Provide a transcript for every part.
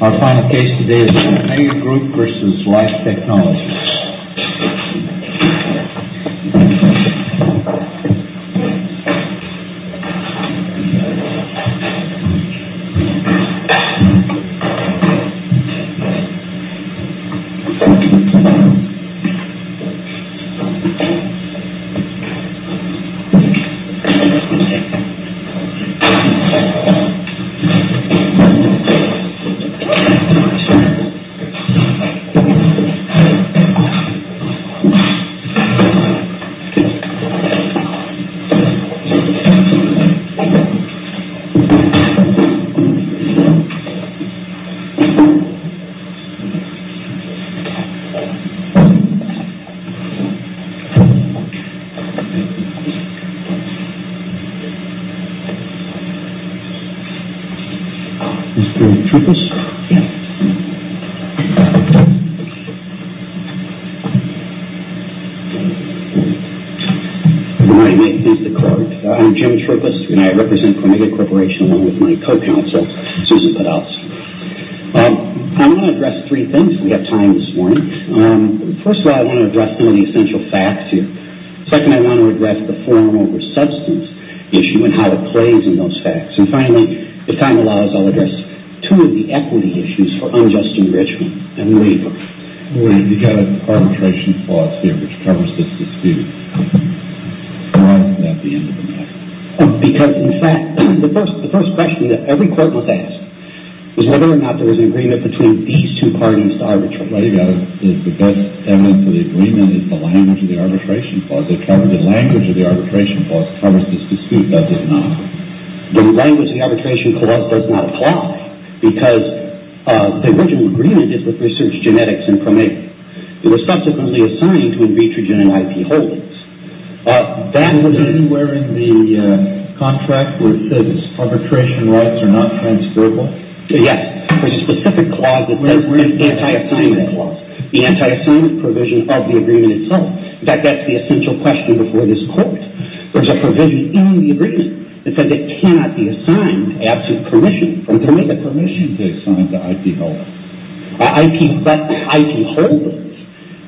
Our final case today is PAMEGA GROUP v. LIFE TECHNOLOGY PAMEGA GROUP v. LIFE TECHNOLOGY Jim Troopis I'm Jim Troopis, and I represent PAMEGA Corporation along with my co-counsel, Susan Podolsky. I want to address three things. We have time this morning. First of all, I want to address some of the essential facts here. Second, I want to address the form over substance issue and how it plays in those facts. And finally, if time allows, I'll address two of the equity issues for unjust enrichment and labor. You've got an arbitration clause here which covers this dispute. Why is that the end of the matter? Because, in fact, the first question that every court must ask is whether or not there was an agreement between these two parties to arbitrate. The best evidence of the agreement is the language of the arbitration clause. The language of the arbitration clause covers this dispute, does it not? The language of the arbitration clause does not apply because the original agreement is with Research Genetics and PAMEGA. It was subsequently assigned to Invitrogen and IP Holdings. Was there anywhere in the contract where it said arbitration rights are not transferable? Yes. There's a specific clause that does that. Where is the anti-assignment clause? The anti-assignment provision of the agreement itself. In fact, that's the essential question before this court. There's a provision in the agreement that says it cannot be assigned absolute permission from PAMEGA permission to assign to IP Holdings. IP Holdings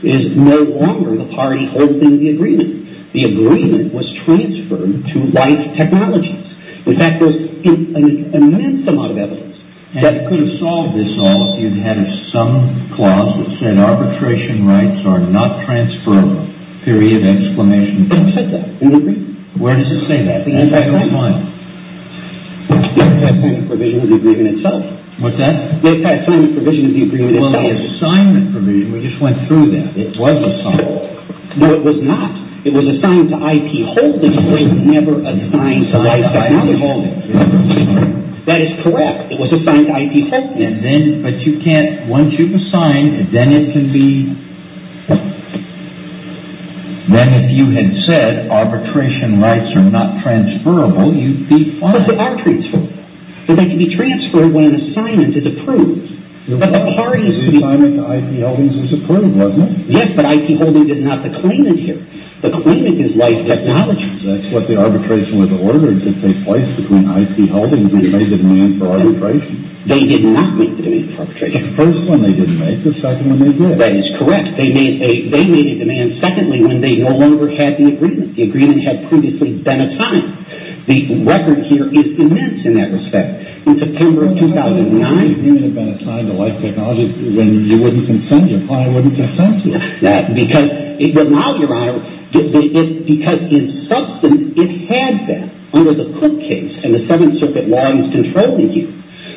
is no longer the party holding the agreement. The agreement was transferred to Life Technologies. In fact, there's an immense amount of evidence that could have solved this all if you'd had some clause that said arbitration rights are not transferable, period, exclamation point. It didn't say that in the agreement. Where does it say that? The anti-assignment. The anti-assignment provision of the agreement itself. What's that? The anti-assignment provision of the agreement itself. Well, the assignment provision, we just went through that. It was assigned. No, it was not. It was assigned to IP Holdings. It was never assigned to Life Technologies. It was assigned to IP Holdings. That is correct. It was assigned to IP Holdings. And then, but you can't, once you've assigned, then it can be, then if you had said arbitration rights are not transferable, you'd be fine. But they are transferable. They can be transferred when an assignment is approved. But the party is to be approved. The assignment to IP Holdings is approved, wasn't it? Yes, but IP Holdings is not the claimant here. The claimant is Life Technologies. That's what the arbitration was ordered to take place, between IP Holdings and a demand for arbitration. They did not make the demand for arbitration. The first one they didn't make. The second one they did. That is correct. They made a demand, secondly, when they no longer had the agreement. The agreement had previously been assigned. The record here is immense in that respect. In September of 2009. The agreement had been assigned to Life Technologies when you wouldn't consent. Your client wouldn't consent to it. Because, but now, Your Honor, because in substance, it had that under the Cook case, and the Seventh Circuit law is controlling you.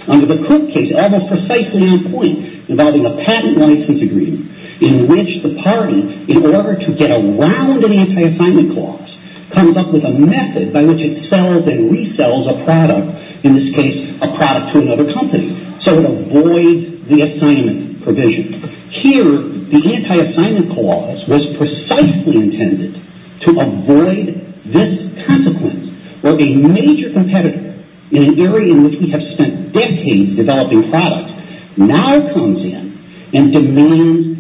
Under the Cook case, almost precisely on point, involving a patent license agreement, in which the party, in order to get around an anti-assignment clause, comes up with a method by which it sells and resells a product, in this case, a product to another company. So it avoids the assignment provision. Here, the anti-assignment clause was precisely intended to avoid this consequence, where a major competitor, in an area in which we have spent decades developing products, now comes in and demands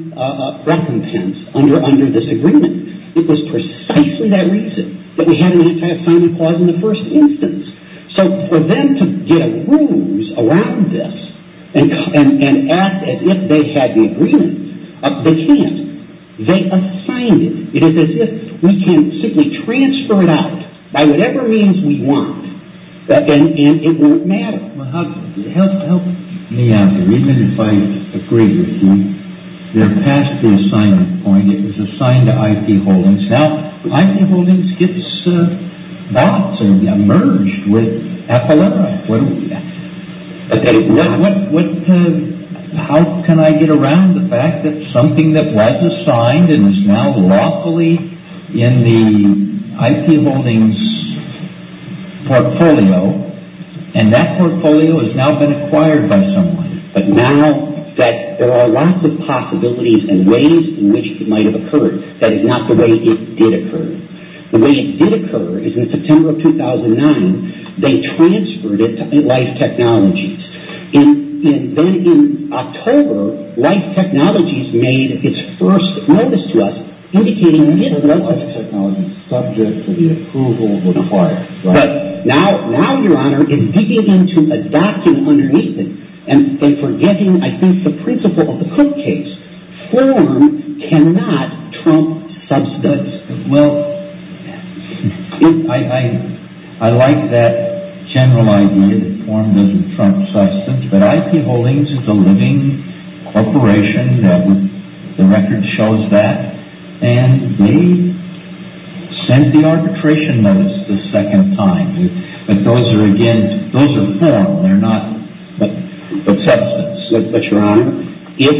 recompense under this agreement. It was precisely that reason that we had an anti-assignment clause in the first instance. So for them to get a ruse around this and act as if they had the agreement, they can't. They assigned it. It is as if we can simply transfer it out by whatever means we want, and it won't matter. Well, how, help me out here. Even if I agree with you, they're past the assignment point. It was assigned to IP Holdings. Now, IP Holdings gets bought and merged with Appalachia. Okay. What, how can I get around the fact that something that was assigned and is now lawfully in the IP Holdings portfolio, and that portfolio has now been acquired by someone, but now that there are lots of possibilities and ways in which it might have occurred, that is not the way it did occur. The way it did occur is in September of 2009, they transferred it to Life Technologies. And then in October, Life Technologies made its first notice to us, indicating it didn't work. So Life Technologies, subject to the approval, was acquired. Right. But now, Your Honor, in digging into a document underneath it, and forgetting, I think, the principle of the Cook case, form cannot trump substance. Well, I like that general idea that form doesn't trump substance, but IP Holdings, the living corporation, the record shows that, and they sent the arbitration notice the second time. But those are, again, those are form, they're not the substance. But, Your Honor, if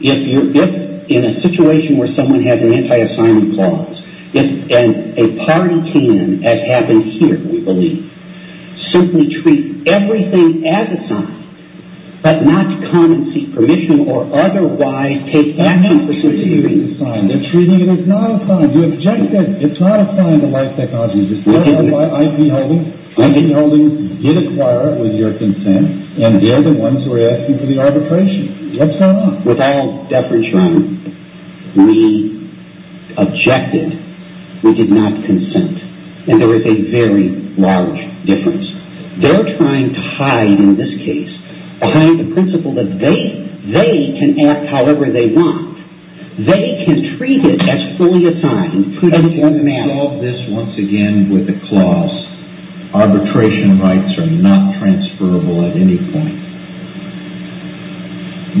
in a situation where someone has an anti-assignment clause, and a party can, as happened here, we believe, simply treat everything as assigned, but not come and seek permission or otherwise take action. Treating it as assigned. They're treating it as not assigned. You objected, it's not assigned to Life Technologies. IP Holdings did acquire it with your consent, and they're the ones who are asking for the arbitration. What's going on? With all deference, Your Honor, we objected. We did not consent. And there is a very large difference. They're trying to hide, in this case, behind the principle that they can act however they want. They can treat it as fully assigned. If you resolve this, once again, with a clause, arbitration rights are not transferable at any point.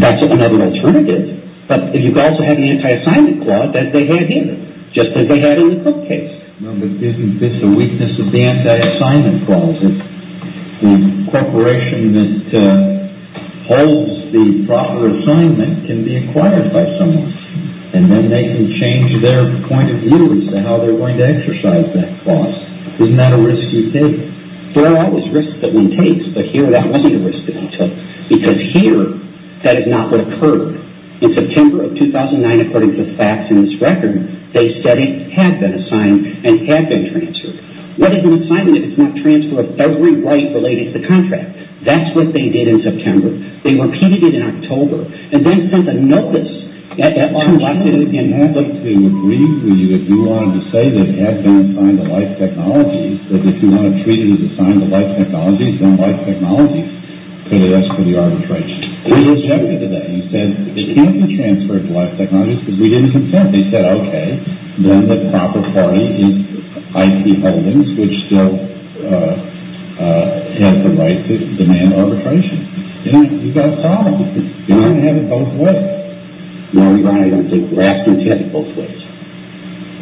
That's another alternative. But if you also have the anti-assignment clause, as they had here, just as they had in the Cook case. Well, but isn't this a weakness of the anti-assignment clause? The corporation that holds the proper assignment can be acquired by someone, and then they can change their point of view as to how they're going to exercise that clause. Isn't that a risky thing? There are always risks that one takes, but here that wasn't a risk that I took, because here that is not what occurred. In September of 2009, according to the facts in this record, they said it had been assigned and had been transferred. What is an assignment if it's not transferred with every right related to the contract? That's what they did in September. They repeated it in October, and then sent a notice at that time. I'd like to agree with you if you wanted to say that it had been assigned to Life Technologies, that if you want to treat it as assigned to Life Technologies, then Life Technologies could ask for the arbitration. They rejected that. They said it can't be transferred to Life Technologies because we didn't consent. They said, okay, then the proper party is IT Holdings, which still has the right to demand arbitration. You've got a problem. You want to have it both ways. No, Your Honor, I don't think we're asking to have it both ways.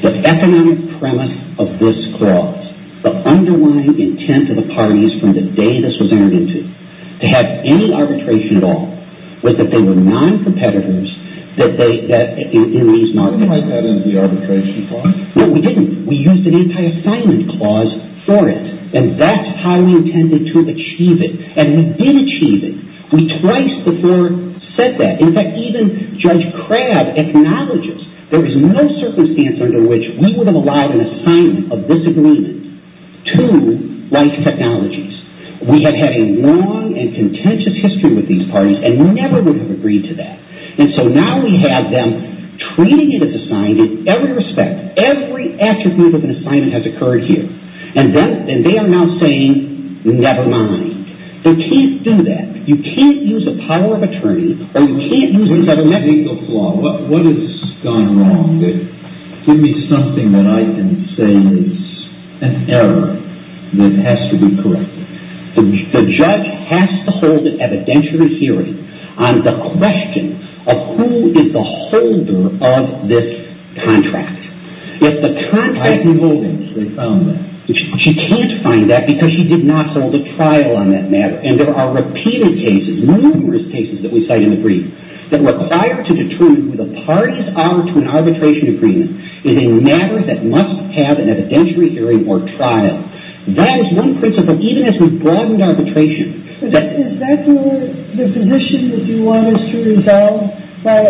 The economic premise of this clause, the underlying intent of the parties from the day this was entered into, to have any arbitration at all, was that they were non-competitors in these markets. I thought that was the arbitration clause. No, we didn't. We used an anti-assignment clause for it, and that's how we intended to achieve it. And we did achieve it. We twice before said that. In fact, even Judge Crabb acknowledges there is no circumstance under which we would have allowed an assignment of disagreement to Life Technologies. We have had a long and contentious history with these parties, and we never would have agreed to that. And so now we have them treating it as assigned in every respect. Every attribute of an assignment has occurred here. And they are now saying, never mind. They can't do that. You can't use the power of attorney, or you can't use this other method. Let me take the flaw. What has gone wrong here? Give me something that I can say is an error that has to be corrected. The judge has to hold an evidentiary hearing on the question of who is the holder of this contract. If the contract... I can hold it. They found that. She can't find that because she did not hold a trial on that matter. And there are repeated cases, numerous cases that we cite in the brief, that require to determine who the parties are to an arbitration agreement is a matter that must have an evidentiary hearing or trial. That is one principle, even as we broaden arbitration. Is that the position that you want us to resolve by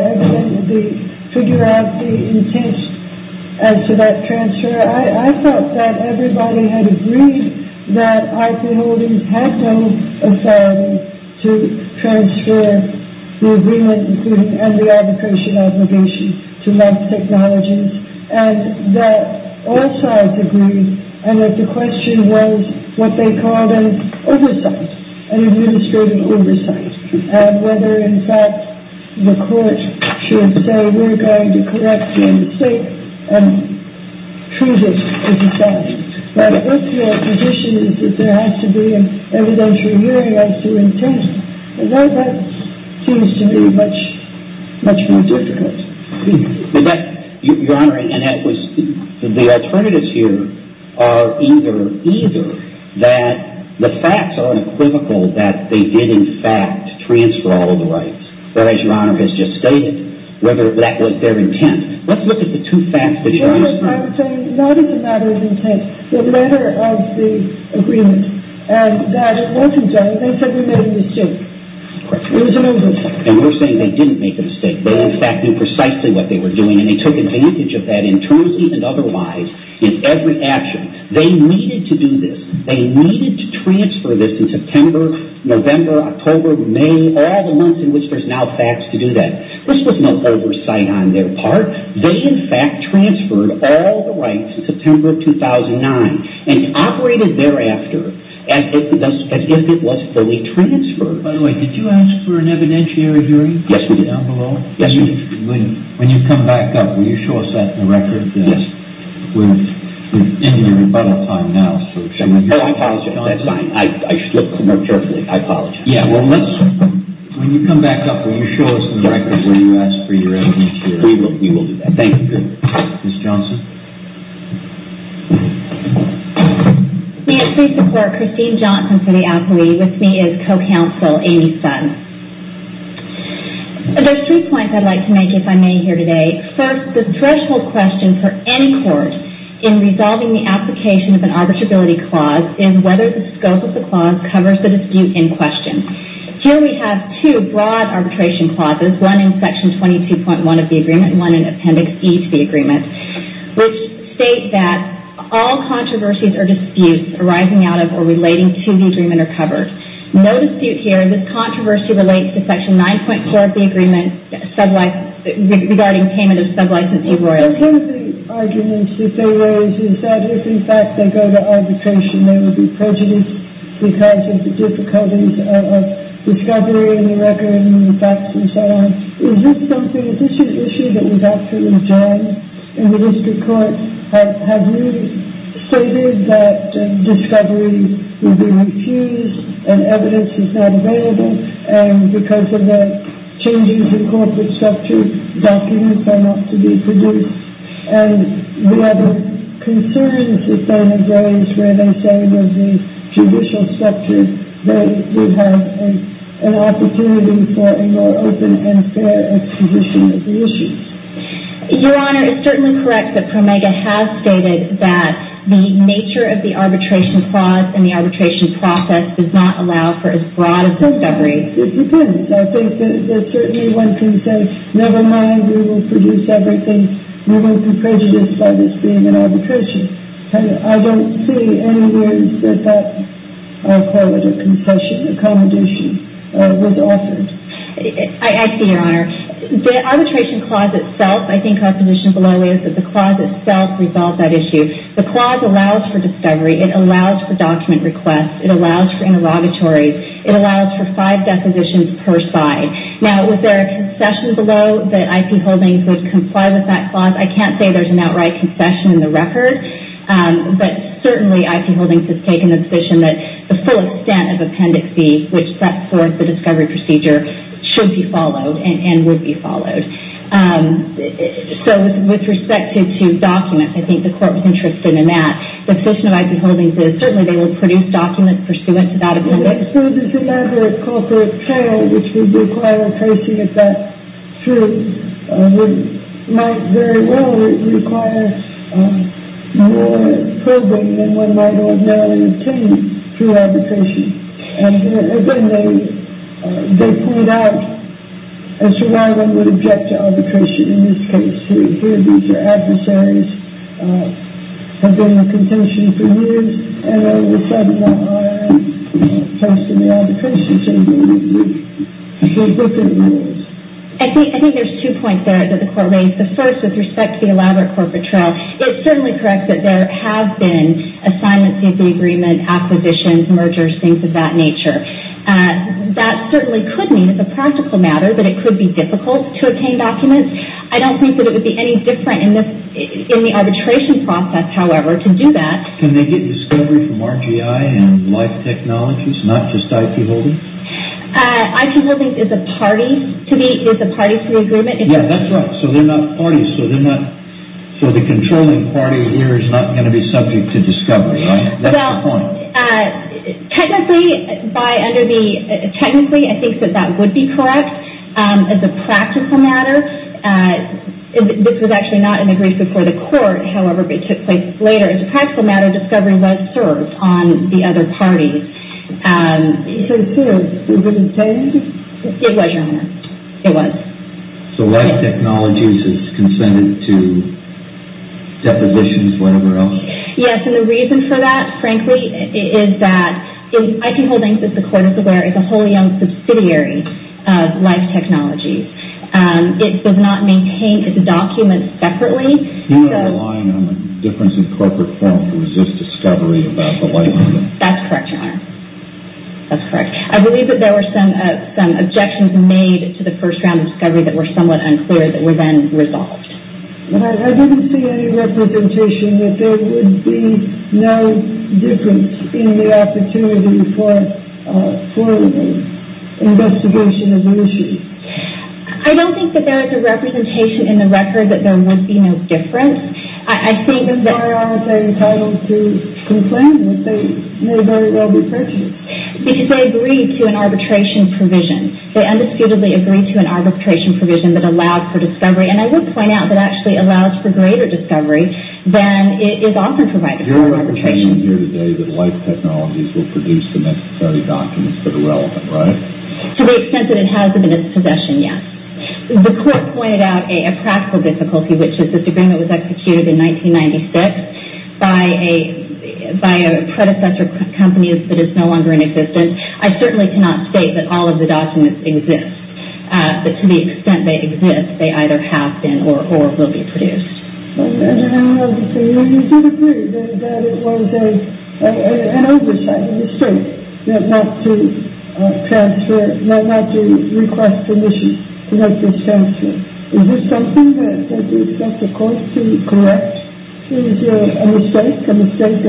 figuring out the intent as to that transfer? I thought that everybody had agreed that Arthur Holdings had no authority to transfer the agreement and the arbitration obligation to Mass Technologies, and that all sides agreed, and that the question was what they called an oversight, an administrative oversight, and whether, in fact, the court should say, we're going to correct the mistake and prove it to society. But what's your position is that there has to be an evidentiary hearing as to intent? That seems to me much more difficult. Your Honor, the alternatives here are either that the facts are unequivocal that they did, in fact, transfer all the rights, as Your Honor has just stated, whether that was their intent. Let's look at the two facts that you're using. I'm saying not as a matter of intent. The letter of the agreement, and Dash Holdings, I think, said we made a mistake. It was an oversight. And we're saying they didn't make a mistake. They, in fact, knew precisely what they were doing, and they took advantage of that, intrusively and otherwise, in every action. They needed to do this. They needed to transfer this in September, November, October, May, and all the months in which there's now facts to do that. This was no oversight on their part. They, in fact, transferred all the rights in September 2009 and operated thereafter as if it was fully transferred. By the way, did you ask for an evidentiary hearing? Yes, we did. Down below? Yes, we did. When you come back up, will you show us that in the record? Yes. We're in your rebuttal time now. Oh, I apologize. That's fine. I should look more carefully. I apologize. When you come back up, will you show us in the record what you asked for your evidentiary hearing? We will do that. Thank you. Ms. Johnson? May it please the Court, Christine Johnson for the appellee. With me is co-counsel Amy Sutton. There's three points I'd like to make, if I may, here today. First, the threshold question for any court in resolving the application of an arbitrability clause is whether the scope of the clause covers the dispute in question. Here we have two broad arbitration clauses, one in Section 22.1 of the agreement and one in Appendix E to the agreement, which state that all controversies or disputes arising out of or relating to the agreement are covered. No dispute here. This controversy relates to Section 9.4 of the agreement regarding payment of sub-licensee royalties. One of the arguments that they raise is that if, in fact, they go to arbitration, they would be prejudiced because of the difficulties of discovery and the record and the facts and so on. Is this something, is this an issue that was actually joined in the district court? Have you stated that discovery would be refused and evidence is not available and because of the changes in corporate structure, documents are not to be produced? And the other concerns that they may raise where they say with the judicial structure, they would have an opportunity for a more open and fair acquisition of the issues. Your Honor, it's certainly correct that Promega has stated that the nature of the arbitration clause and the arbitration process does not allow for as broad a discovery. It depends. I think that certainly one can say, never mind, we will produce everything. We won't be prejudiced by this being an arbitration. I don't see anywhere that that, I'll call it a concession, accommodation was offered. I see, Your Honor. The arbitration clause itself, I think our position below is that the clause itself resolved that issue. The clause allows for discovery. It allows for document requests. It allows for interrogatories. It allows for five depositions per side. Now, was there a concession below that I.P. Holdings would comply with that clause? I can't say there's an outright concession in the record, but certainly I.P. Holdings has taken the position that the full extent of appendix B, which sets forth the discovery procedure, should be followed and would be followed. So with respect to documents, I think the court was interested in that. The position of I.P. Holdings is certainly they would produce documents pursuant to that appendix. So this is another culprit trail which would require tracing if that's true. It might very well require more probing than one might ordinarily obtain through arbitration. And again, they point out as to why one would object to arbitration in this case. Here, these are adversaries. They've been on contention for years. And all of a sudden, now I.R. is posting the arbitration statement. They've broken the rules. I think there's two points there that the court raised. The first, with respect to the elaborate corporate trail, it's certainly correct that there have been assignments to the agreement, acquisitions, mergers, things of that nature. That certainly could mean, as a practical matter, that it could be difficult to obtain documents. I don't think that it would be any different in the arbitration process, however, to do that. Can they get discovery from RGI and Life Technologies, not just I.P. Holdings? I.P. Holdings is a party to the agreement. Yeah, that's right. So they're not parties. So the controlling party here is not going to be subject to discovery, right? Technically, I think that that would be correct as a practical matter. This was actually not in the brief before the court, however, but it took place later. As a practical matter, discovery was served on the other party. So it's true. It wouldn't say anything? It was, Your Honor. It was. So Life Technologies is consented to depositions, whatever else? Yes, and the reason for that, frankly, is that I.P. Holdings, as the court is aware, is a wholly owned subsidiary of Life Technologies. It does not maintain its documents separately. You are relying on the difference in corporate form to resist discovery about the life engine. That's correct, Your Honor. That's correct. I believe that there were some objections made to the first round of discovery that were somewhat unclear that were then resolved. But I didn't see any representation that there would be no difference in the opportunity for investigation of the issue. I don't think that there is a representation in the record that there would be no difference. I think that... Then why aren't they entitled to complain? They may very well be prejudiced. Because they agreed to an arbitration provision. They undisputedly agreed to an arbitration provision that allowed for discovery. And I would point out that it actually allows for greater discovery than is often provided for an arbitration. Your interpretation here today is that Life Technologies will produce the necessary documents that are relevant, right? To the extent that it has them in its possession, yes. The court pointed out a practical difficulty, which is that the agreement was executed in 1996 by a predecessor company that is no longer in existence. I certainly cannot state that all of the documents exist. But to the extent they exist, they either have been or will be produced. And you did agree that it was an oversight, a mistake, not to transfer, not to request permission to make this transfer. Is this something that you expect the court to correct? Is it a mistake? A mistake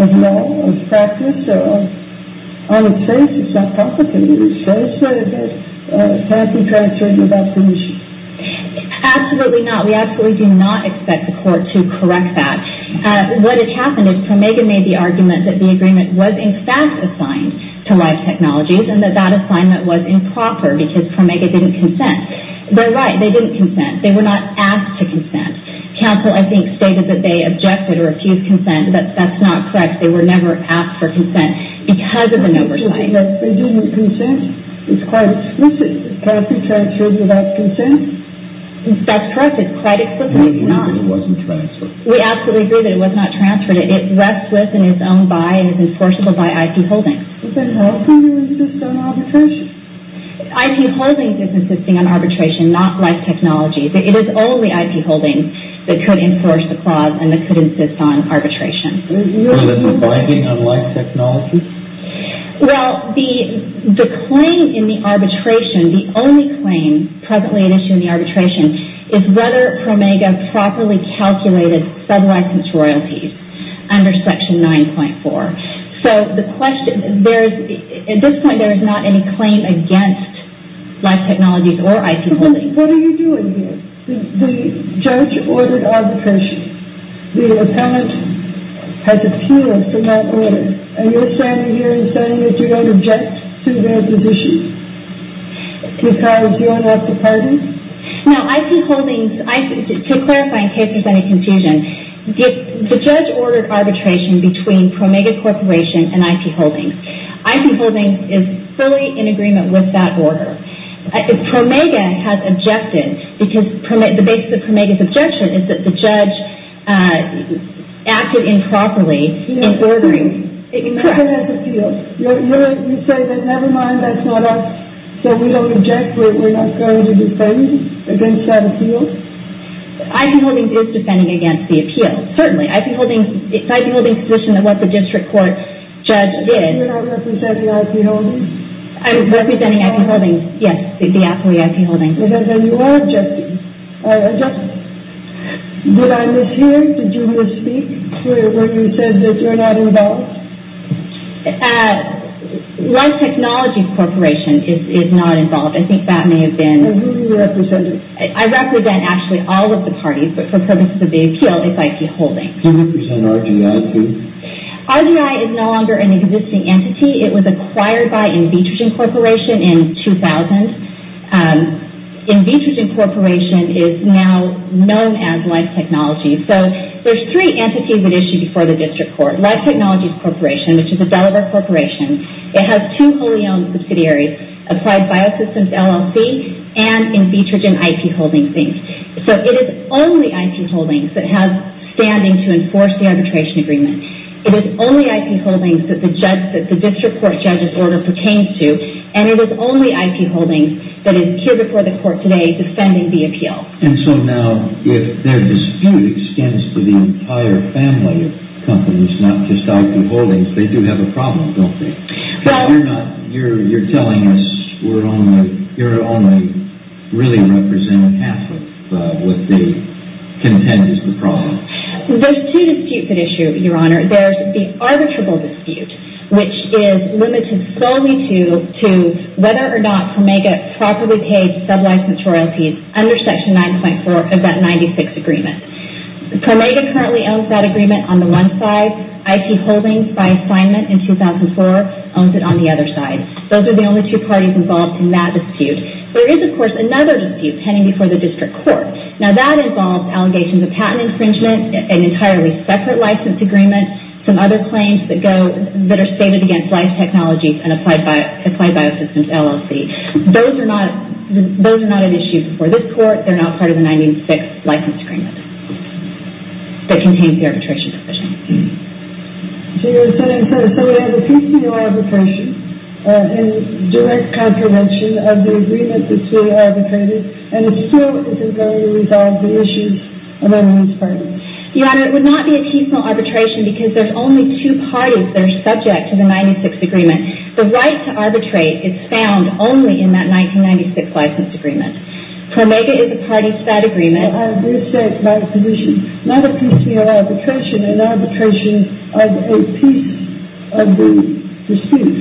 of law, of practice, or of... On its face, it's not proper to use force, but it has to be transferred without permission. Absolutely not. We absolutely do not expect the court to correct that. What has happened is Promega made the argument that the agreement was in fact assigned to Life Technologies, and that that assignment was improper because Promega didn't consent. They're right. They didn't consent. They were not asked to consent. Counsel, I think, stated that they objected or refused consent, but that's not correct. They were never asked for consent because of an oversight. They didn't consent. It's quite explicit. Can I be transferred without consent? That's correct. It's quite explicit. It's not. Maybe it wasn't transferred. We absolutely agree that it was not transferred. It rests with and is owned by and is enforceable by IP Holdings. But then how come it insists on arbitration? IP Holdings is insisting on arbitration, not Life Technologies. It is only IP Holdings that could enforce the clause and that could insist on arbitration. Was it a binding on Life Technologies? Well, the claim in the arbitration, the only claim presently at issue in the arbitration, is whether Promega properly calculated sub-license royalties under Section 9.4. So, at this point, there is not any claim against Life Technologies or IP Holdings. What are you doing here? The judge ordered arbitration. The appellant has appealed for that order. And you're standing here and saying that you don't object to their position because you're not the party? Now, IP Holdings, to clarify in case there's any confusion, the judge ordered arbitration between Promega Corporation and IP Holdings. IP Holdings is fully in agreement with that order. Promega has objected because the basis of Promega's objection is that the judge acted improperly in ordering. You say that never mind, that's not us, so we don't object, we're not going to defend against that appeal? IP Holdings is defending against the appeal, certainly. It's IP Holdings' position of what the district court judge did. You're not representing IP Holdings? I'm representing IP Holdings, yes, the appellee, IP Holdings. Then you are objecting. Did I mishear? Did you want to speak when you said that you're not involved? Life Technologies Corporation is not involved. I think that may have been... And who do you represent? I represent, actually, all of the parties, but for purposes of the appeal, it's IP Holdings. Do you represent RGI, too? RGI is no longer an existing entity. It was acquired by Invitrogen Corporation in 2000. Invitrogen Corporation is now known as Life Technologies. There are three entities that issue before the district court. Life Technologies Corporation, which is a Delaware corporation. It has two wholly owned subsidiaries, Applied Biosystems LLC and Invitrogen IP Holdings. It is only IP Holdings that has standing to enforce the arbitration agreement. It is only IP Holdings that the district court judge's order pertains to, and it is only IP Holdings that is here before the court today defending the appeal. So now, if their dispute extends to the entire family of companies, not just IP Holdings, they do have a problem, don't they? You're telling us you're only really representing half of what contends as the problem. There's two disputes at issue, Your Honor. There's the arbitrable dispute, which is limited solely to whether or not Promega properly paid sublicensed royalties under Section 9.4 of that 96 agreement. Promega currently owns that agreement on the one side. IP Holdings, by assignment in 2004, owns it on the other side. Those are the only two parties involved in that dispute. There is, of course, another dispute pending before the district court. Now, that involves allegations of patent infringement, an entirely separate license agreement, some other claims that are stated against Life Technologies and Applied Biosystems LLC. Those are not at issue before this court. They're not part of the 96 license agreement that contains the arbitration provision. So you're saying that if they have a piecemeal arbitration, a direct contravention of the agreement that's being arbitrated, and it still isn't going to resolve the issues of everyone's party? Your Honor, it would not be a piecemeal arbitration because there's only two parties that are subject to the 96 agreement. The right to arbitrate is found only in that 1996 license agreement. Promega is a party to that agreement. Well, I did say it's not a piecemeal arbitration, an arbitration of a piece of the dispute.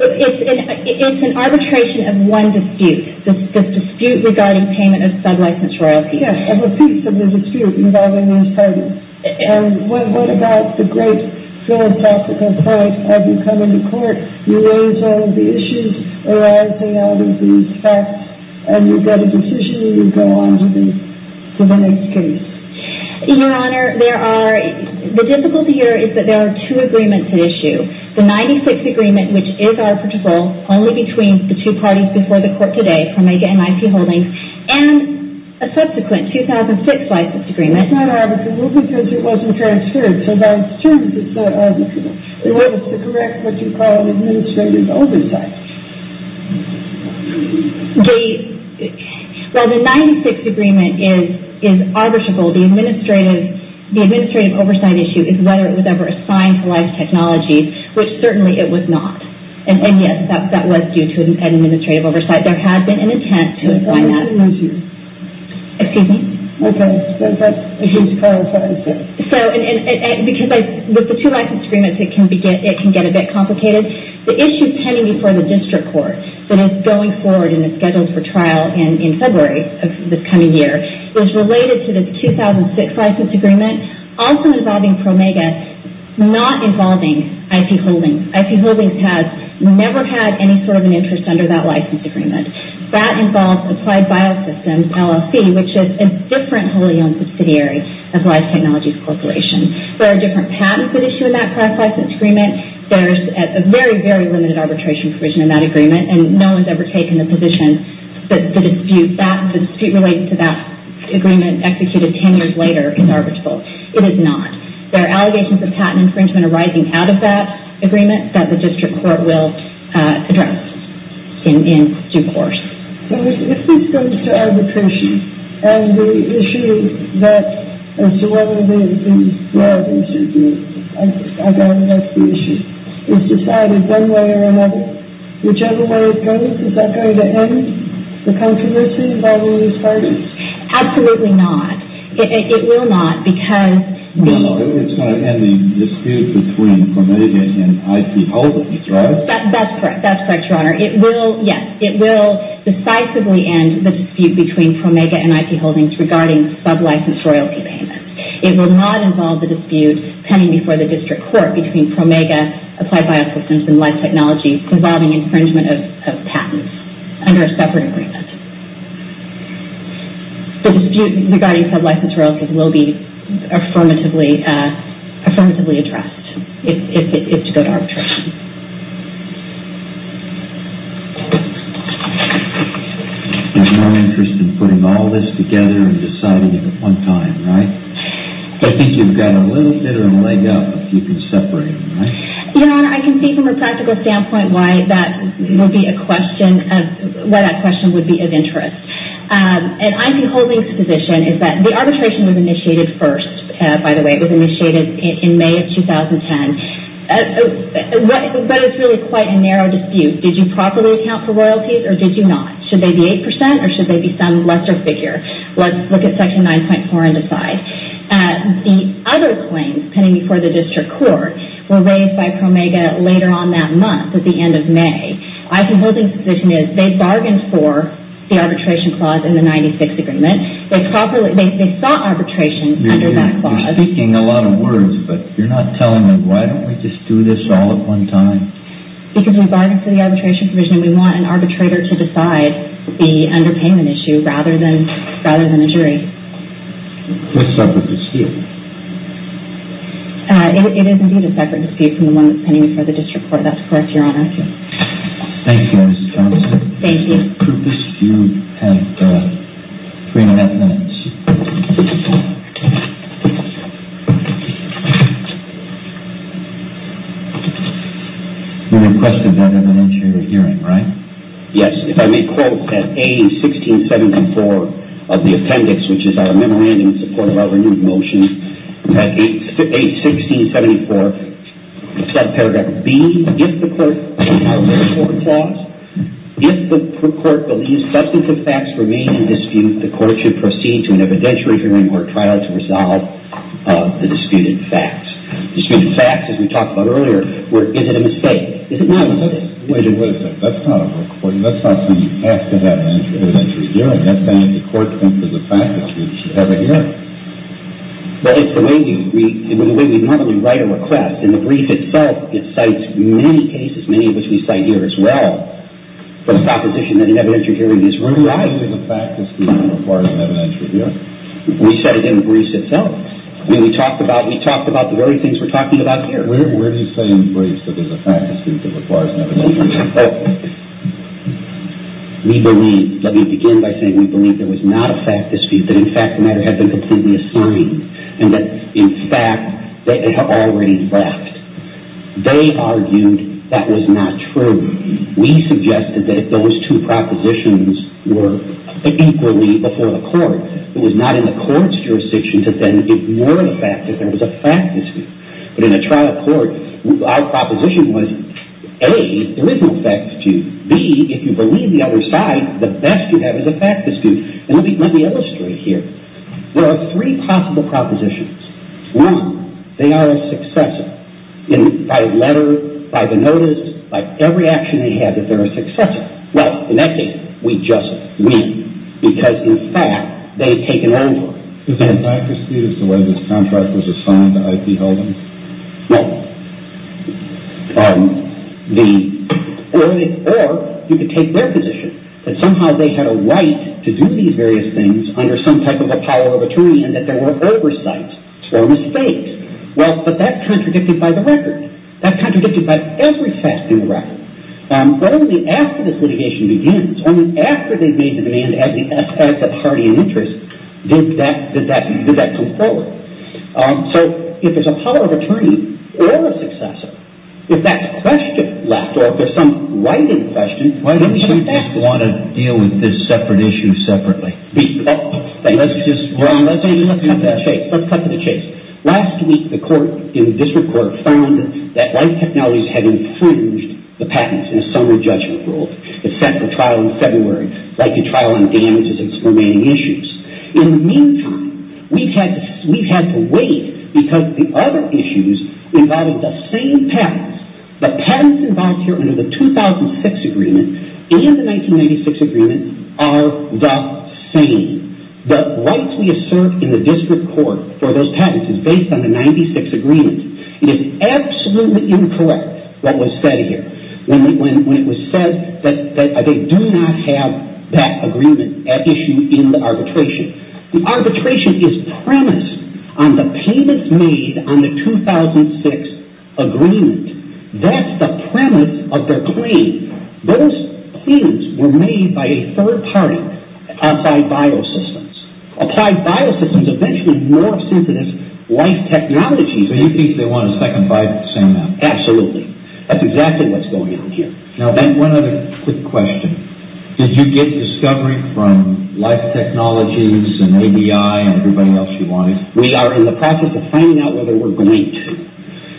It's an arbitration of one dispute, the dispute regarding payment of sublicense royalties. Yes, of a piece of the dispute involving each party. And what about the great philosophical point of you coming to court, you raise all of the issues arising out of these facts, and you get a decision and you go on to the next case? Your Honor, the difficulty here is that there are two agreements at issue. The 96 agreement, which is arbitrable only between the two parties before the court today, Promega and I.C. Holdings, and a subsequent 2006 license agreement. It's not arbitrable because it wasn't transferred. So that's true that it's not arbitrable. It was to correct what you call an administrative oversight. Well, the 96 agreement is arbitrable. The administrative oversight issue is whether it was ever assigned to life technologies, which certainly it was not. And yes, that was due to an administrative oversight. There has been an intent to apply that. Excuse me? Okay. So with the two license agreements, it can get a bit complicated. The issue pending before the district court that is going forward and is scheduled for trial in February of this coming year is related to the 2006 license agreement, also involving Promega, not involving I.C. Holdings. I.C. Holdings has never had any sort of an interest under that license agreement. That involves Applied Biosystems, LLC, which is a different wholly owned subsidiary of Life Technologies Corporation. There are different patents that issue in that process. It's a very, very limited arbitration provision in that agreement, and no one's ever taken the position that the dispute related to that agreement executed 10 years later is arbitrable. It is not. There are allegations of patent infringement arising out of that agreement that the district court will address in due course. So if this goes to arbitration, and the issue that, and so one of the things, well, I guess the issue is decided one way or another. Whichever way it goes, is that going to end the controversy involving these parties? Absolutely not. It will not because... It's not ending disputes between Promega and I.C. Holdings, right? That's correct. That's correct, Your Honor. It will, yes, it will decisively end the dispute between Promega and I.C. Holdings regarding sublicense royalty payments. It will not involve the dispute pending before the district court between Promega, Applied Biosystems, and Life Technologies involving infringement of patents under a separate agreement. The dispute regarding sublicense royalties will be affirmatively addressed if it's to go to arbitration. You have no interest in putting all this together and deciding it at one time, right? I think you've got a little bit of a leg up if you can separate them, right? Your Honor, I can see from a practical standpoint why that would be a question of... Why that question would be of interest. And I.C. Holdings' position is that the arbitration was initiated first, by the way. It was initiated in May of 2010. But it's really quite a narrow dispute. Did you properly account for royalties or did you not? Should they be 8% or should they be some lesser figure? Let's look at Section 9.4 and decide. The other claims pending before the district court were raised by Promega later on that month, at the end of May. I.C. Holdings' position is they bargained for the arbitration clause in the 96th Agreement. They sought arbitration under that clause. You're speaking a lot of words, but you're not telling me why don't we just do this all at one time? Because we bargained for the arbitration provision and we want an arbitrator to decide the underpayment issue rather than a jury. This is a separate dispute. It is indeed a separate dispute from the one that's pending before the district court. That's correct, Your Honor. Thank you, Mrs. Thompson. Thank you. Could this dispute have three and a half minutes? You requested that in an interior hearing, right? Yes, if I may quote that A1674 of the appendix, which is our memorandum in support of our renewed motion, that A1674, paragraph B, if the court believes substantive facts remain in dispute, the court should proceed to an evidentiary hearing or trial to resolve the disputed facts. Disputed facts, as we talked about earlier, is it a mistake? Is it not a mistake? Wait a minute. That's not a request. That's not something you ask to have an evidentiary hearing. That's saying the court comes to the fact that it should have a hearing. Well, it's the way we normally write a request. In the brief itself, it cites many cases, many of which we cite here as well, for the proposition that an evidentiary hearing is required. Where do you say in the fact dispute requires an evidentiary hearing? We said it in the brief itself. I mean, we talked about the very things we're talking about here. Where do you say in the brief that there's a fact dispute that requires an evidentiary hearing? We believe, let me begin by saying we believe there was not a fact dispute, that in fact the matter had been completely assigned, and that in fact it had already left. They argued that was not true. We suggested that if those two propositions were equally before the court, it was not in the court's jurisdiction to then ignore the fact that there was a fact dispute. But in a trial court, our proposition was, A, there is a fact dispute. B, if you believe the other side, the best you have is a fact dispute. And let me illustrate here. There are three possible propositions. One, they are a successor. By letter, by the notice, by every action they have that they're a successor. Well, in that case, we just win because in fact they've taken on board. Is there a fact dispute as to why this contract was assigned to IP Holdings? Well, or you could take their position that somehow they had a right to do these various things under some type of a power of attorney and that there were oversights or mistakes. Well, but that contradicted by the record. That contradicted by every fact in the record. Only after this litigation begins, only after they've made the demand as the party in interest, did that come forward. So if there's a power of attorney or a successor, if that question left or if there's some righted question, then we have a fact dispute. Why don't you just want to deal with this separate issue separately? Let's cut to the chase. Last week, the court in the district court found that life technologies had infringed the patents in a summer judgment rule. It set for trial in February, likely trial on damages and its remaining issues. In the meantime, we've had to wait because the other issues involved the same patents. The patents involved here under the 2006 agreement and the 1996 agreement are the same. The rights we assert in the district court for those patents is based on the 96 agreement. It is absolutely incorrect what was said here when it was said that they do not have that agreement, that issue in the arbitration. The arbitration is premised on the payments made on the 2006 agreement. That's the premise of their claim. Those claims were made by a third party, Applied Biosystems. Applied Biosystems eventually morphed into this life technology. So you think they want a second bite at the same amount? Absolutely. That's exactly what's going on here. Now, one other quick question. Did you get discovery from life technologies and ABI and everybody else you wanted? We are in the process of finding out whether we're going to.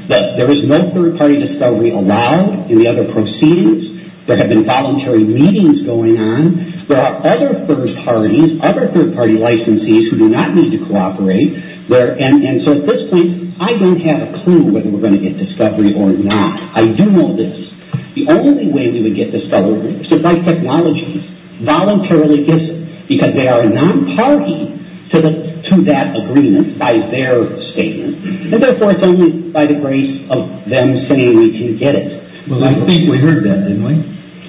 There is no third party discovery allowed in the other proceedings. There have been voluntary meetings going on. There are other first parties, other third party licensees who do not need to cooperate. And so at this point, I don't have a clue whether we're going to get discovery or not. I do know this. The only way we would get discovery is if life technologies voluntarily gives it because they are non-party to that agreement by their statement. And, therefore, it's only by the grace of them saying we can get it. Well, I think we heard that, didn't we?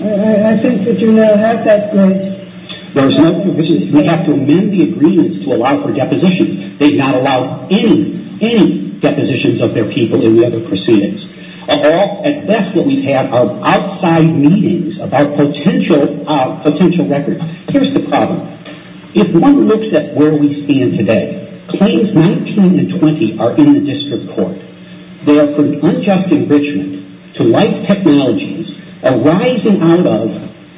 I think that you now have that point. We have to amend the agreements to allow for depositions. They've not allowed any, any depositions of their people in the other proceedings. At best, what we've had are outside meetings about potential records. Here's the problem. If one looks at where we stand today, claims 19 and 20 are in the district court. They are putting unjust enrichment to life technologies arising out of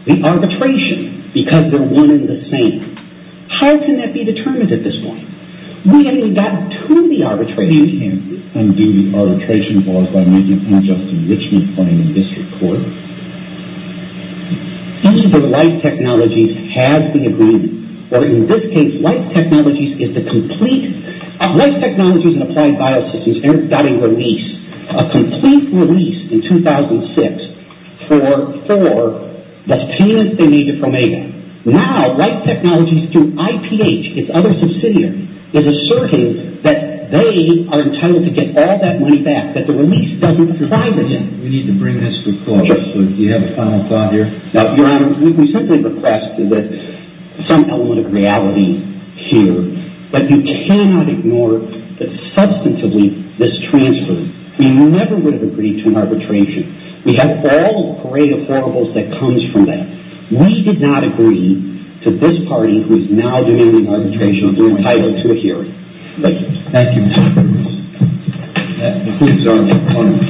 the arbitration because they're one and the same. How can that be determined at this point? We haven't even gotten to the arbitration. You can't undo the arbitration clause by making unjust enrichment claim in district court. Either life technologies has the agreement, or in this case, life technologies is the complete Life Technologies and Applied Biosystems got a release, a complete release in 2006, for the tenants they needed from ADA. Now, Life Technologies through IPH, its other subsidiary, is asserting that they are entitled to get all that money back, that the release doesn't apply to them. We need to bring this to a close. Do you have a final thought here? Your Honor, we simply request that some element of reality here. But you cannot ignore that, substantively, this transfers. We never would have agreed to an arbitration. We have all the parade of horribles that comes from that. We did not agree to this party, who is now doing the arbitration, to be entitled to a hearing. Thank you. Thank you, Mr. Perkins. The court is adjourned.